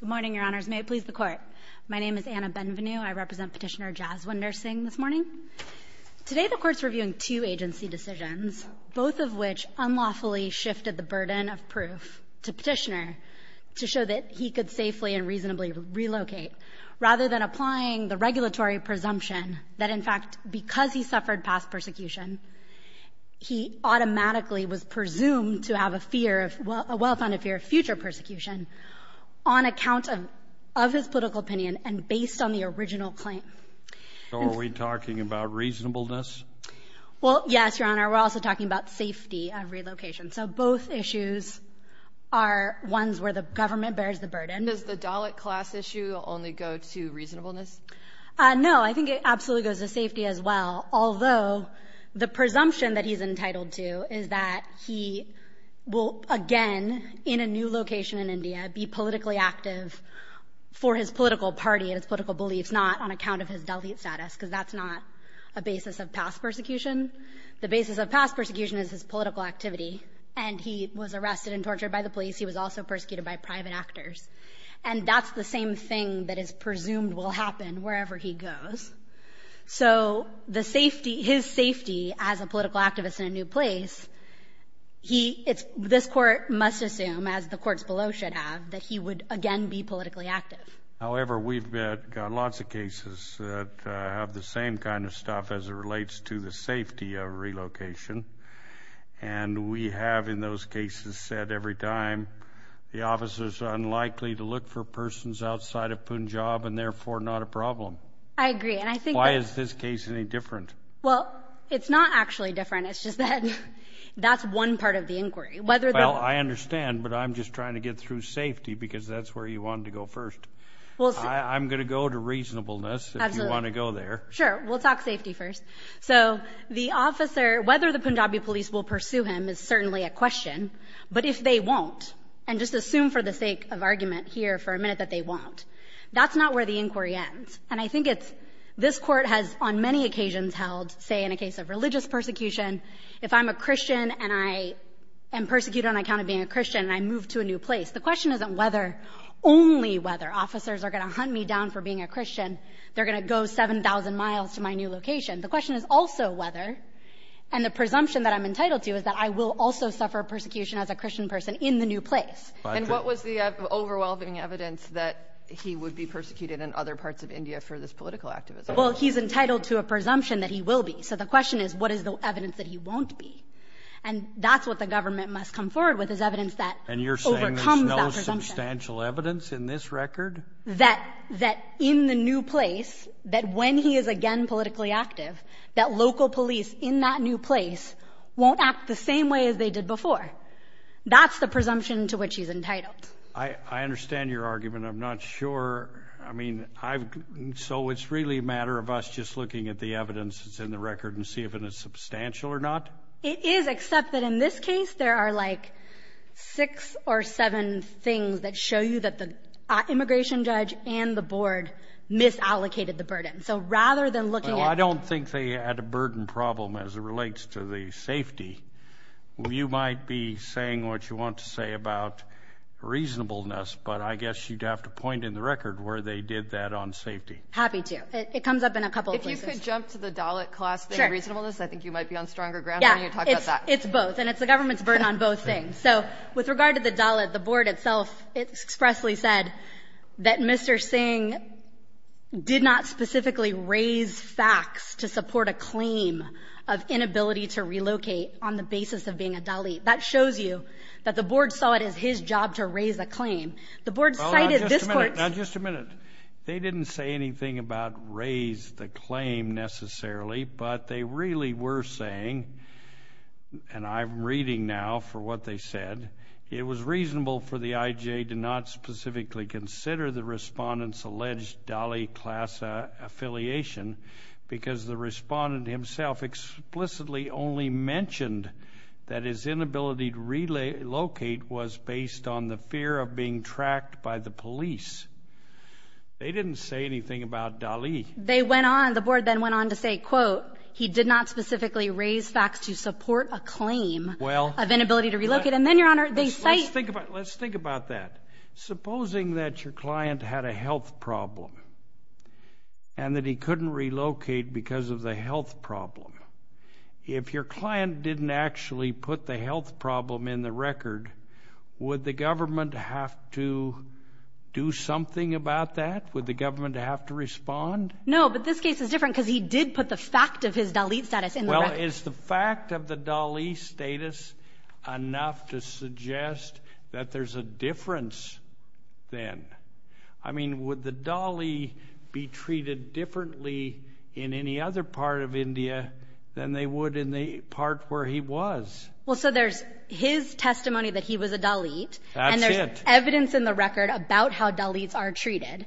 Good morning, Your Honors. May it please the Court. My name is Anna Benvenu. I represent Petitioner Jaswinder Singh this morning. Today, the Court's reviewing two agency decisions, both of which unlawfully shifted the burden of proof to Petitioner to show that he could safely and reasonably relocate, rather than applying the regulatory presumption that, in fact, because he suffered past persecution, he automatically was presumed to have a fear of — a well-founded fear of future persecution on account of his political opinion and based on the original claim. So are we talking about reasonableness? Well, yes, Your Honor. We're also talking about safety of relocation. So both issues are ones where the government bears the burden. Does the Dalit class issue only go to reasonableness? No. I think it absolutely goes to safety as well, although the presumption that he's entitled to is that he will, again, in a new location in India, be politically active for his political party and his political beliefs, not on account of his Dalit status, because that's not a basis of past persecution. The basis of past persecution is his political activity. And he was arrested and tortured by the police. He was also persecuted by private actors. And that's the same thing that is presumed will happen wherever he goes. So the safety — his safety as a political activist in a new place, he — this court must assume, as the courts below should have, that he would, again, be politically active. However, we've got lots of cases that have the same kind of stuff as it relates to the safety of relocation. And we have, in those cases, said every time, the officers are unlikely to look for persons outside of Punjab and therefore not a problem. I agree. And I think — Why is this case any different? Well, it's not actually different. It's just that that's one part of the inquiry. Well, I understand. But I'm just trying to get through safety, because that's where you want to go first. I'm going to go to reasonableness if you want to go there. Sure. We'll talk safety first. So the officer — whether the Punjabi police will pursue him is certainly a question. But if they won't, and just assume for the sake of argument here for a minute that they won't, that's not where the inquiry ends. And I think it's — this Court has, on many occasions, held, say, in a case of religious persecution, if I'm a Christian and I am persecuted on account of being a Christian and I move to a new place, the question isn't whether — only whether officers are going to hunt me down for being a Christian. They're going to go 7,000 miles to my new location. The question is also whether — and the presumption that I'm entitled to is that I will also suffer persecution as a Christian person in the new place. And what was the overwhelming evidence that he would be persecuted in other parts of India for this political activism? Well, he's entitled to a presumption that he will be. So the question is, what is the evidence that he won't be? And that's what the government must come forward with, is evidence that overcomes that presumption. And you're saying there's no substantial evidence in this record? That — that in the new place, that when he is again politically active, that local police in that new place won't act the same way as they did before. That's the presumption to which he's entitled. I understand your argument. I'm not sure. I mean, I've — so it's really a matter of us just looking at the evidence that's in the record and see if it is substantial or not? It is, except that in this case, there are like six or seven things that show you that the immigration judge and the board misallocated the burden. So rather than looking at — Well, I don't think they had a burden problem as it relates to the safety. You might be saying what you want to say about reasonableness, but I guess you'd have to point in the record where they did that on safety. Happy to. It comes up in a couple of places. If you could jump to the Dalit class thing, reasonableness, I think you might be on stronger ground when you talk about that. Yeah. It's both. And it's the government's burden on both things. So with regard to the Dalit, the board itself expressly said that Mr. Singh did not specifically raise facts to support a claim of inability to relocate on the basis of being a Dalit. That shows you that the board saw it as his job to raise a claim. The board cited this court's — Now, just a minute. They didn't say anything about raise the claim necessarily, but they really were saying — and I'm reading now for what they said — it was reasonable for the IJA to not specifically consider the respondent's alleged Dalit class affiliation because they respondent himself explicitly only mentioned that his inability to relocate was based on the fear of being tracked by the police. They didn't say anything about Dalit. They went on — the board then went on to say, quote, he did not specifically raise facts to support a claim of inability to relocate. And then, Your Honor, they cite — Let's think about that. Supposing that your client had a health problem and that he couldn't relocate because of the health problem. If your client didn't actually put the health problem in the record, would the government have to do something about that? Would the government have to respond? No, but this case is different because he did put the fact of his Dalit status in the record. Well, is the fact of the Dalit status enough to suggest that there's a difference then? I mean, would the Dalit be treated differently in any other part of India than they would in the part where he was? Well, so there's his testimony that he was a Dalit. That's it. And there's evidence in the record about how Dalits are treated.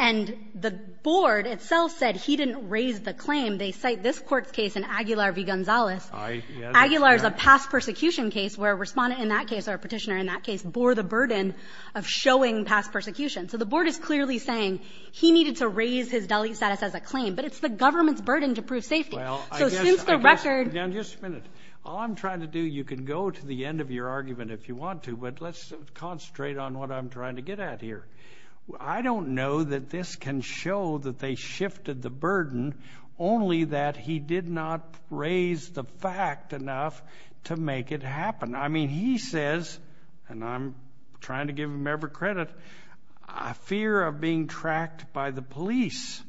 And the board itself said he didn't raise the claim. They cite this court's case in Aguilar v. Gonzalez. I — Aguilar is a past persecution case where a respondent in that case or a petitioner in that case bore the burden of showing past persecution. So the board is clearly saying he needed to raise his Dalit status as a claim. But it's the government's burden to prove safety. Well, I guess — So since the record — Now, just a minute. All I'm trying to do — you can go to the end of your argument if you want to, but let's concentrate on what I'm trying to get at here. I don't know that this can show that they shifted the burden, only that he did not raise the fact enough to make it happen. I mean, he says — and I'm trying to give him every credit — a fear of being tracked by the police.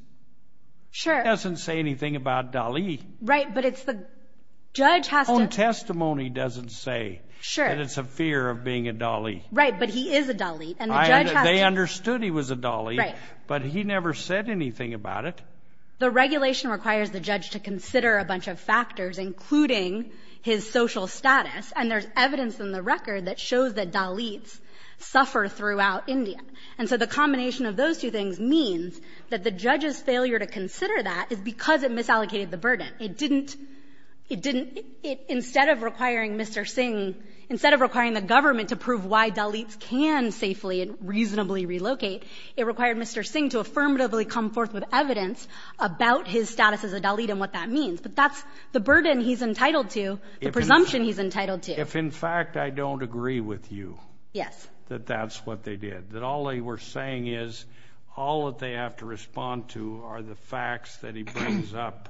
Sure. He doesn't say anything about Dalit. Right. But it's the — judge has to — Own testimony doesn't say that it's a fear of being a Dalit. Right. But he is a Dalit. And the judge has to — They understood he was a Dalit. Right. But he never said anything about it. So the regulation requires the judge to consider a bunch of factors, including his social status. And there's evidence in the record that shows that Dalits suffer throughout India. And so the combination of those two things means that the judge's failure to consider that is because it misallocated the burden. It didn't — it didn't — instead of requiring Mr. Singh — instead of requiring the government to prove why Dalits can safely and reasonably relocate, it required Mr. Singh to affirmatively come forth with evidence about his status as a Dalit and what that means. But that's the burden he's entitled to, the presumption he's entitled to. If, in fact, I don't agree with you — Yes. — that that's what they did, that all they were saying is all that they have to respond to are the facts that he brings up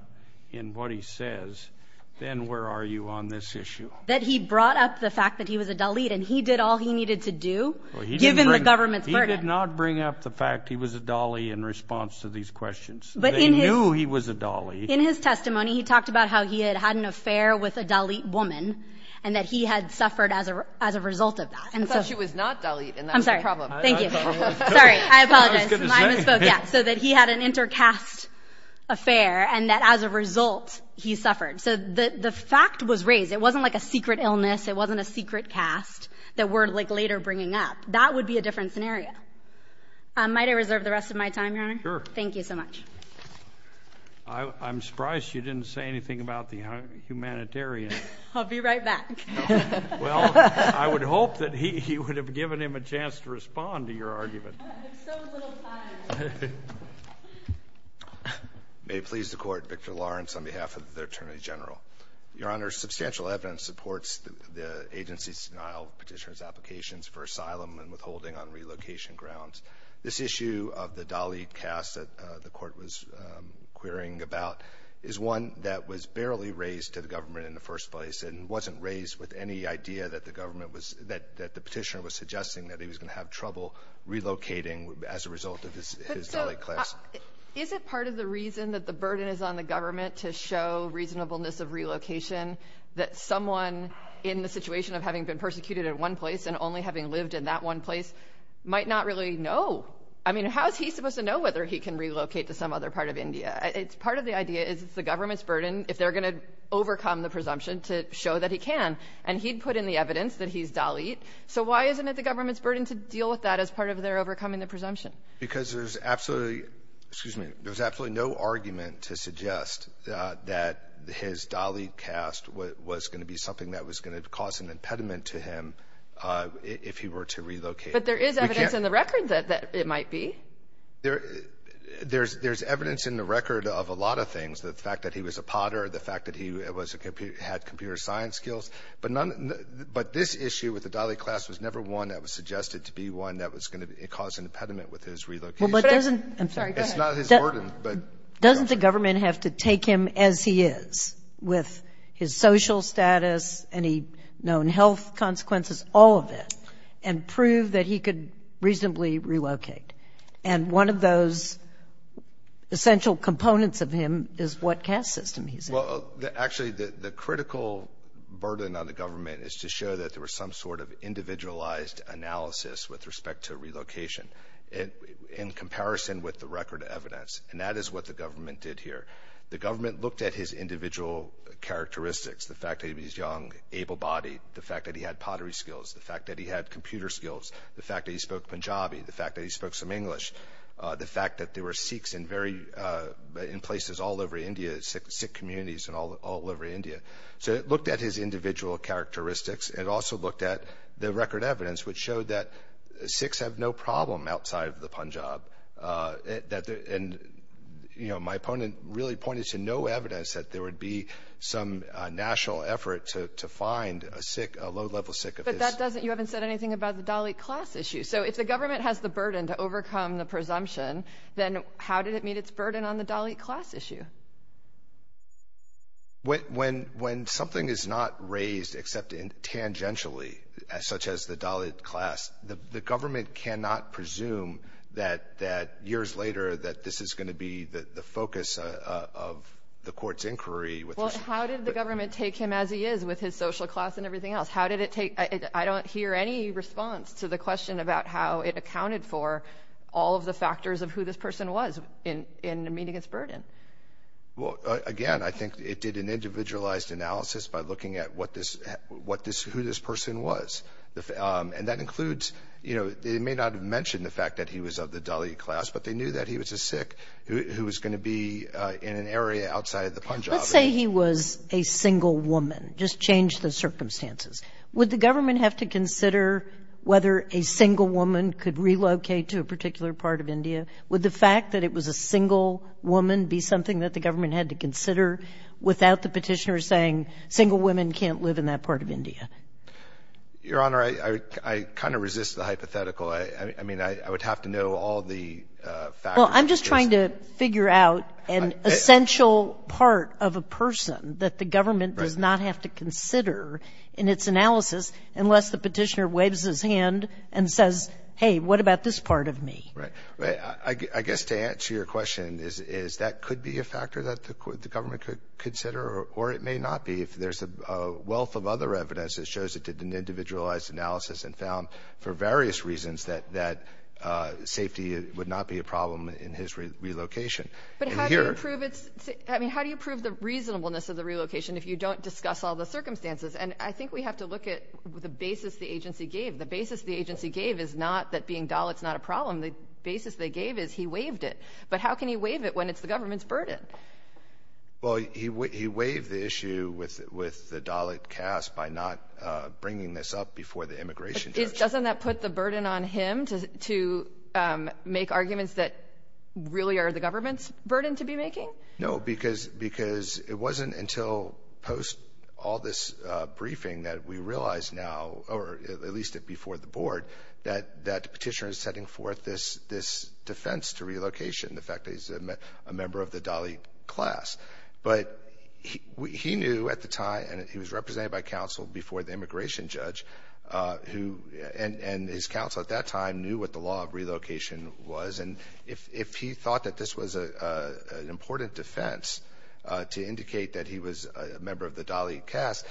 in what he says, then where are you on this issue? That he brought up the fact that he was a Dalit and he did all he needed to do, given the government's burden. He did not bring up the fact he was a Dalit in response to these questions. But in his — They knew he was a Dalit. In his testimony, he talked about how he had had an affair with a Dalit woman and that he had suffered as a — as a result of that. And so — I thought she was not Dalit, and that was the problem. I'm sorry. Thank you. That's the problem. Sorry. I apologize. I was going to say — Yeah. So that he had an inter-caste affair and that, as a result, he suffered. So the fact was raised. It wasn't like a secret illness. It wasn't a secret inter-caste that we're, like, later bringing up. That would be a different scenario. Might I reserve the rest of my time, Your Honor? Sure. Thank you so much. I'm surprised you didn't say anything about the humanitarians. I'll be right back. Well, I would hope that he would have given him a chance to respond to your argument. I have so little time. May it please the Court, Victor Lawrence on behalf of the Attorney General. Your Honor, substantial evidence supports the agency's denial of Petitioner's applications for asylum and withholding on relocation grounds. This issue of the Dalit caste that the Court was querying about is one that was barely raised to the government in the first place and wasn't raised with any idea that the government was — that the Petitioner was suggesting that he was going to have trouble relocating as a result of his Dalit class. Is it part of the reason that the burden is on the government to show reasonableness of relocation that someone in the situation of having been persecuted in one place and only having lived in that one place might not really know? I mean, how is he supposed to know whether he can relocate to some other part of India? It's — part of the idea is it's the government's burden, if they're going to overcome the presumption, to show that he can. And he'd put in the evidence that he's Dalit, so why isn't it the government's burden to deal with that as part of their overcoming the presumption? Because there's absolutely — excuse me — there's absolutely no argument to suggest that his Dalit caste was going to be something that was going to cause an impediment to him if he were to relocate. But there is evidence in the record that it might be. There — there's evidence in the record of a lot of things, the fact that he was a potter, the fact that he was a — had computer science skills. But none — but this issue with the Dalit class was never one that was suggested to be one that was going to cause an impediment with his relocation. Well, but doesn't — I'm sorry. It's not his burden, but — Doesn't the government have to take him as he is, with his social status, any known health consequences, all of it, and prove that he could reasonably relocate? And one of those essential components of him is what caste system he's in. Well, actually, the critical burden on the government is to show that there was some sort of individualized analysis with respect to relocation in comparison with the record evidence. And that is what the government did here. The government looked at his individual characteristics, the fact that he was young, able-bodied, the fact that he had pottery skills, the fact that he had computer skills, the fact that he spoke Punjabi, the fact that he spoke some English, the fact that there were Sikhs in very — in places all over India, Sikh communities all over India. So it looked at his individual characteristics. It also looked at the record evidence, which showed that Sikhs have no problem outside of the Punjab. And my opponent really pointed to no evidence that there would be some national effort to find a low-level Sikh of his. But that doesn't — you haven't said anything about the Dalit class issue. So if the government has the burden to overcome the presumption, then how did it meet its burden on the Dalit class issue? When something is not raised except tangentially, such as the Dalit class, the government cannot presume that years later that this is going to be the focus of the court's inquiry. Well, how did the government take him as he is with his social class and everything else? How did it take — I don't hear any response to the question about how it accounted for all of the factors of who this person was in meeting its burden. Well, again, I think it did an individualized analysis by looking at what this — who this person was. And that includes — you know, they may not have mentioned the fact that he was of the Dalit class, but they knew that he was a Sikh who was going to be in an area outside of the Punjab. Let's say he was a single woman. Just change the circumstances. Would the government have to consider whether a single woman could relocate to a particular part of India? Would the fact that it was a single woman be something that the government had to consider without the petitioner saying, single women can't live in that part of India? Your Honor, I kind of resist the hypothetical. I mean, I would have to know all the factors. Well, I'm just trying to figure out an essential part of a person that the government does not have to consider in its analysis unless the petitioner waves his hand and says, hey, what about this part of me? Right. I guess to answer your question is that could be a factor that the government could consider, or it may not be. There's a wealth of other evidence that shows it in an individualized analysis and found for various reasons that safety would not be a problem in his relocation. But how do you prove it? I mean, how do you prove the reasonableness of the relocation if you don't discuss all the circumstances? And I think we have to look at the basis the agency gave. The basis the agency gave is not that being Dalit is not a problem. The basis they gave is he waved it. But how can he wave it when it's the government's burden? Well, he waved the issue with the Dalit caste by not bringing this up before the immigration judge. Doesn't that put the burden on him to make arguments that really are the government's burden to be making? No, because it wasn't until post all this briefing that we realize now, or at least it before the board, that the petitioner is setting forth this defense to relocation, the fact that he's a member of the Dalit class. But he knew at the time, and he was represented by counsel before the immigration judge, and his counsel at that time knew what the law of relocation was. And if he thought that this was an important defense to indicate that he was a member of the Dalit caste,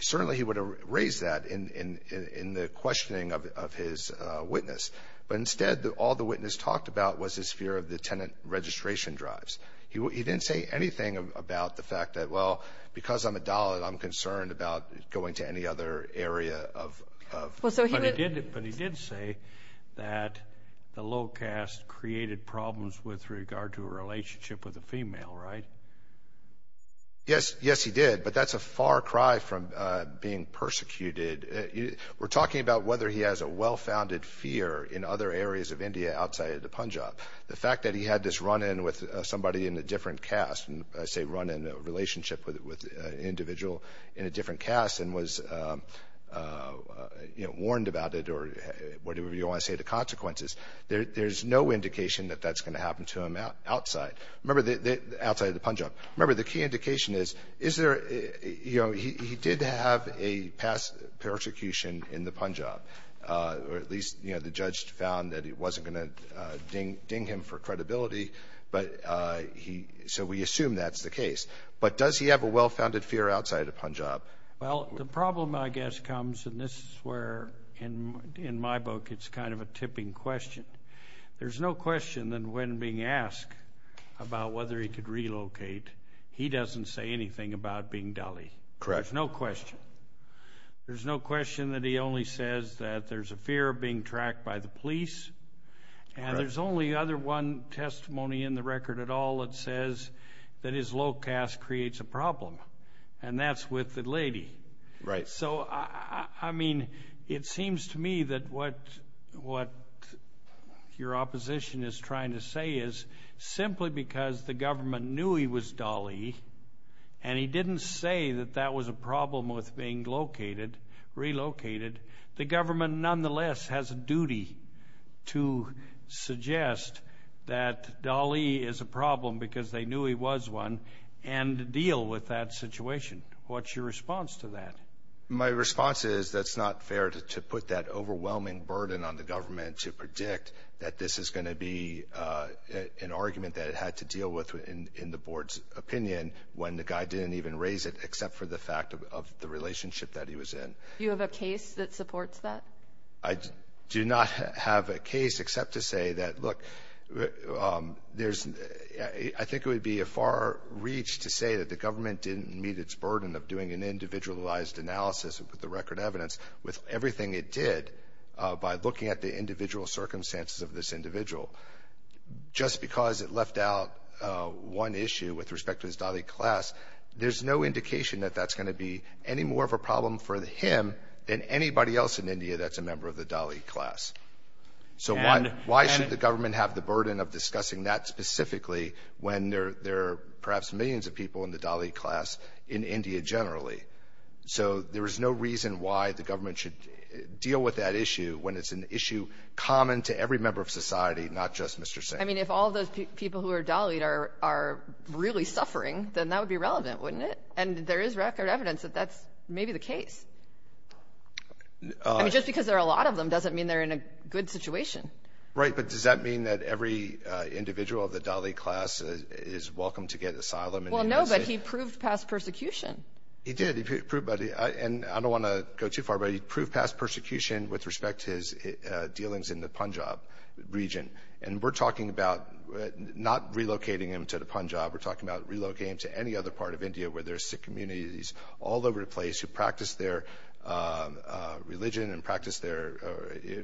certainly he would have raised that in the questioning of his witness. But instead, all the witness talked about was his fear of the tenant registration drives. He didn't say anything about the fact that, well, because I'm a Dalit, I'm concerned about going to any other area. But he did say that the low caste created problems with regard to a relationship with a female, right? Yes, he did. But that's a far cry from being persecuted. We're talking about whether he has a well-founded fear in other areas of India outside of the Punjab. The fact that he had this run-in with somebody in a different caste, and I say run-in, a relationship with an individual in a different caste, and was warned about it, or whatever you want to say, the consequences, there's no indication that that's going to happen to him outside. Remember, outside of the Punjab. Remember, the key indication is, he did have a past persecution in the Punjab, or at least the judge found that it wasn't going to ding him for credibility. So we assume that's the case. But does he have a well-founded fear outside of Punjab? Well, the problem, I guess, comes, and this is where, in my book, it's kind of a tipping question. There's no question that when being asked about whether he could relocate, he doesn't say anything about being Dali. Correct. No question. There's no question that he only says that there's a fear of being tracked by the police. And there's only other one testimony in the record at all that says that his low caste creates a problem. And that's with the lady. Right. So, I mean, it seems to me that what your opposition is trying to say is, simply because the government knew he was Dali, and he didn't say that that was a problem with being relocated, the government nonetheless has a duty to suggest that Dali is a problem because they knew he was one, and deal with that situation. What's your response to that? My response is that's not fair to put that overwhelming burden on the government to predict that this is going to be an argument that it had to deal with in the board's opinion when the guy didn't even raise it except for the fact of the relationship that he was in. Do you have a case that supports that? I do not have a case except to say that, look, I think it would be a far reach to say that the government didn't meet its burden of doing an individualized analysis with the record evidence with everything it did by looking at the individual circumstances of this individual. Just because it left out one issue with respect to his Dali class, there's no indication that that's going to be any more of a problem for him than anybody else in India that's a member of the Dali class. So why should the government have the burden of discussing that specifically when there are perhaps millions of people in the Dali class in India generally? So there is no reason why the government should deal with that issue when it's an issue common to every member of society, not just Mr. Singh. I mean, if all those people who are Dali are really suffering, then that would be relevant, wouldn't it? And there is record evidence that that's maybe the case. I mean, just because there are a lot of them doesn't mean they're in a good situation. Right. But does that mean that every individual of the Dali class is welcome to get asylum? Well, no, but he proved past persecution. He did. He proved, and I don't want to go too far, but he proved past persecution with respect to his dealings in the Punjab region. And we're talking about not relocating him to the Punjab. We're talking about relocating him to any other part of India where there are Sikh communities all over the place who practice their religion and practice their,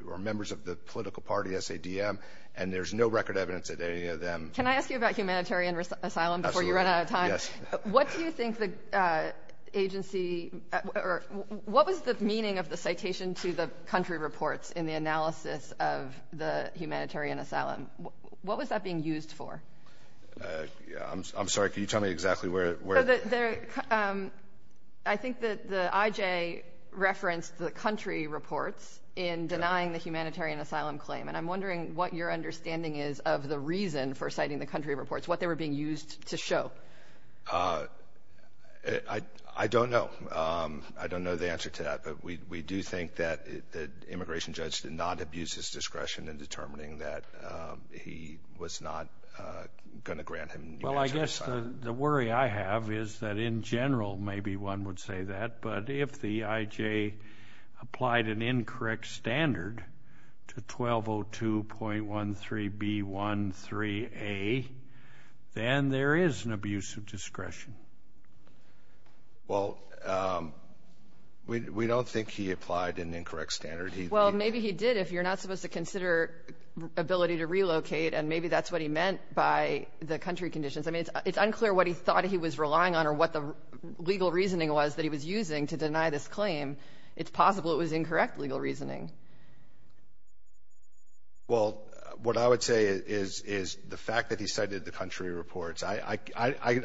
or are the political party SADM. And there's no record evidence that any of them. Can I ask you about humanitarian asylum before you run out of time? Yes. What do you think the agency, or what was the meaning of the citation to the country reports in the analysis of the humanitarian asylum? What was that being used for? I'm sorry, can you tell me exactly where? The, I think that the IJ referenced the country reports in denying the humanitarian asylum claim. And I'm wondering what your understanding is of the reason for citing the country reports, what they were being used to show. I don't know. I don't know the answer to that. But we do think that the immigration judge did not abuse his discretion in determining that he was not going to grant him humanitarian asylum. I guess the worry I have is that in general, maybe one would say that. But if the IJ applied an incorrect standard to 1202.13B13A, then there is an abuse of discretion. Well, we don't think he applied an incorrect standard. Well, maybe he did if you're not supposed to consider ability to relocate. And maybe that's what he meant by the country conditions. I mean, it's unclear what he thought he was relying on or what the legal reasoning was that he was using to deny this claim. It's possible it was incorrect legal reasoning. Well, what I would say is the fact that he cited the country reports, I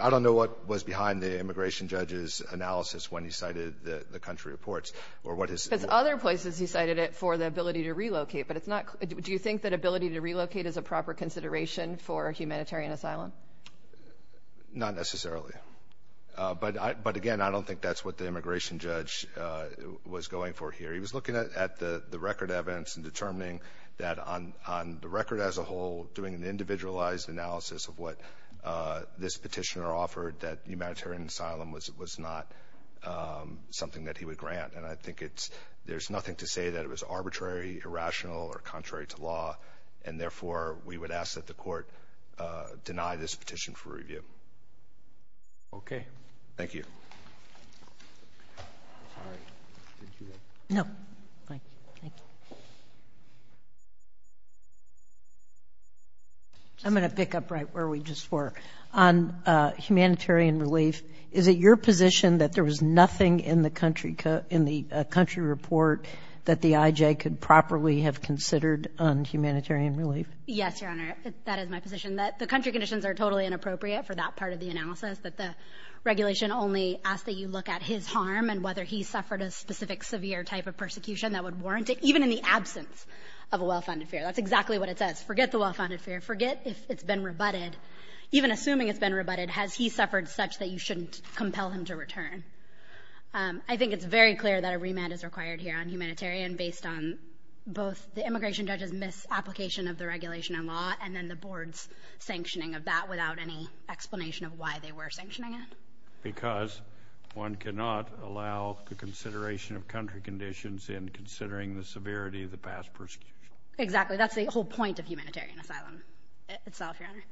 don't know what was behind the immigration judge's analysis when he cited the country reports or what his. There's other places he cited it for the ability to relocate, but it's not. Do you think that ability to relocate is a proper consideration for humanitarian asylum? Not necessarily. But again, I don't think that's what the immigration judge was going for here. He was looking at the record evidence and determining that on the record as a whole, doing an individualized analysis of what this petitioner offered that humanitarian asylum was not something that he would grant. And I think it's there's nothing to say that it was arbitrary, irrational or contrary to law. And therefore, we would ask that the court deny this petition for review. OK, thank you. I'm going to pick up right where we just were on humanitarian relief. Is it your position that there was nothing in the country in the country report that the IJ could properly have considered on humanitarian relief? Yes, Your Honor. That is my position, that the country conditions are totally inappropriate for that part of the analysis, that the regulation only asks that you look at his harm and whether he suffered a specific severe type of persecution that would warrant it, even in the absence of a well-founded fear. That's exactly what it says. Forget the well-founded fear. Forget if it's been rebutted. Even assuming it's been rebutted, has he suffered such that you shouldn't compel him to return? I think it's very clear that a remand is required here on humanitarian based on both the immigration judge's misapplication of the regulation and law and then the board's sanctioning of that without any explanation of why they were sanctioning it. Because one cannot allow the consideration of country conditions in considering the severity of the past persecution. Exactly. That's the whole point of humanitarian asylum itself, Your Honor.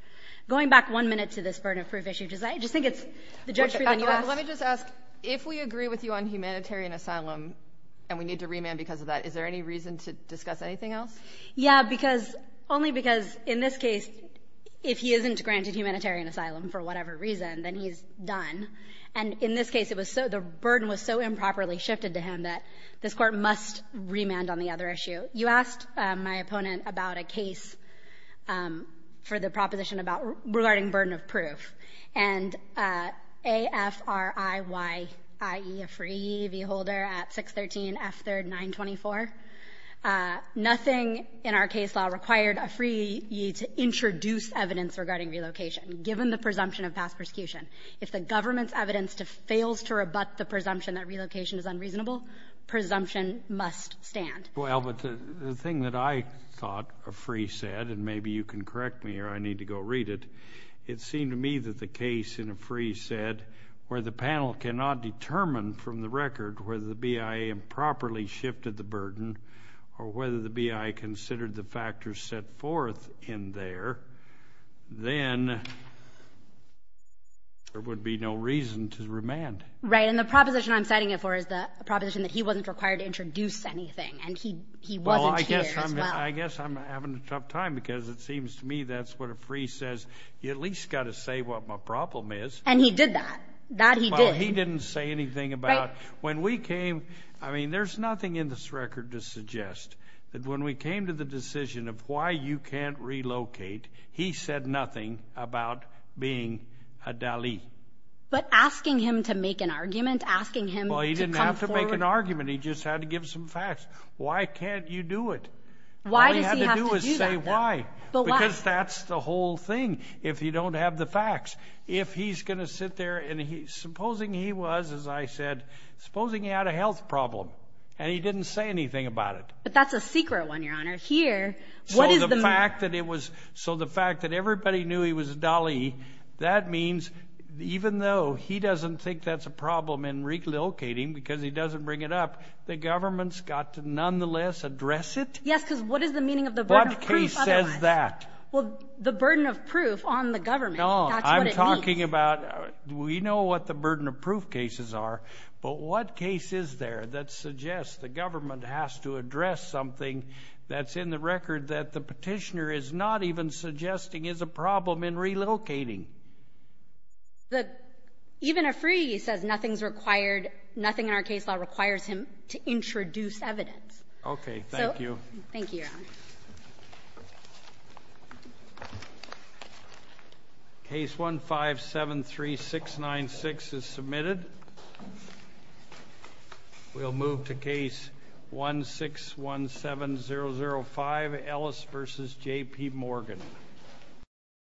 Going back one minute to this burden of proof issue, because I just think it's the judge's freedom. Let me just ask, if we agree with you on humanitarian asylum and we need to remand because of that, is there any reason to discuss anything else? Yeah, because only because in this case, if he isn't granted humanitarian asylum for whatever reason, then he's done. And in this case, it was so the burden was so improperly shifted to him that this court must remand on the other issue. You asked my opponent about a case for the proposition about regarding burden of proof. And A-F-R-I-Y-I-E, a free holder at 613 F3rd 924, nothing in our case law required a free to introduce evidence regarding relocation, given the presumption of past persecution. If the government's evidence fails to rebut the presumption that relocation is unreasonable, presumption must stand. Well, but the thing that I thought A-F-R-I-Y-I-E said, and maybe you can correct me or I need to go read it, it seemed to me that the case in A-F-R-I-Y-I-E said, where the panel cannot determine from the record whether the BIA improperly shifted the burden or whether the BIA considered the factors set forth in there, then there would be no reason to remand. Right, and the proposition I'm citing it for is the proposition that he wasn't required to introduce anything and he wasn't here as well. Well, I guess I'm having a tough time because it seems to me that's what a free says. You at least got to say what my problem is. And he did that. That he did. Well, he didn't say anything about, when we came, I mean, there's nothing in this record to suggest that when we came to the decision of why you can't relocate, he said nothing about being a Dali. But asking him to make an argument, asking him to come forward. He just had to give some facts. Why can't you do it? Why does he have to do that? All you have to do is say why. But why? Because that's the whole thing. If you don't have the facts. If he's going to sit there and he's, supposing he was, as I said, supposing he had a health problem and he didn't say anything about it. But that's a secret one, Your Honor. Here, what is the- So the fact that it was, so the fact that everybody knew he was Dali, that means even though he doesn't think that's a problem in relocating because he doesn't bring it up, the government's got to nonetheless address it? Yes, because what is the meaning of the burden of proof otherwise? What case says that? Well, the burden of proof on the government. No, I'm talking about, we know what the burden of proof cases are, but what case is there that suggests the government has to address something that's in the record that the petitioner is not even suggesting is a problem in relocating? The, even a free, he says nothing's required, nothing in our case law requires him to introduce evidence. Okay, thank you. Thank you, Your Honor. Case 1573696 is submitted. We'll move to case 1617005, Ellis versus J.P. Morgan.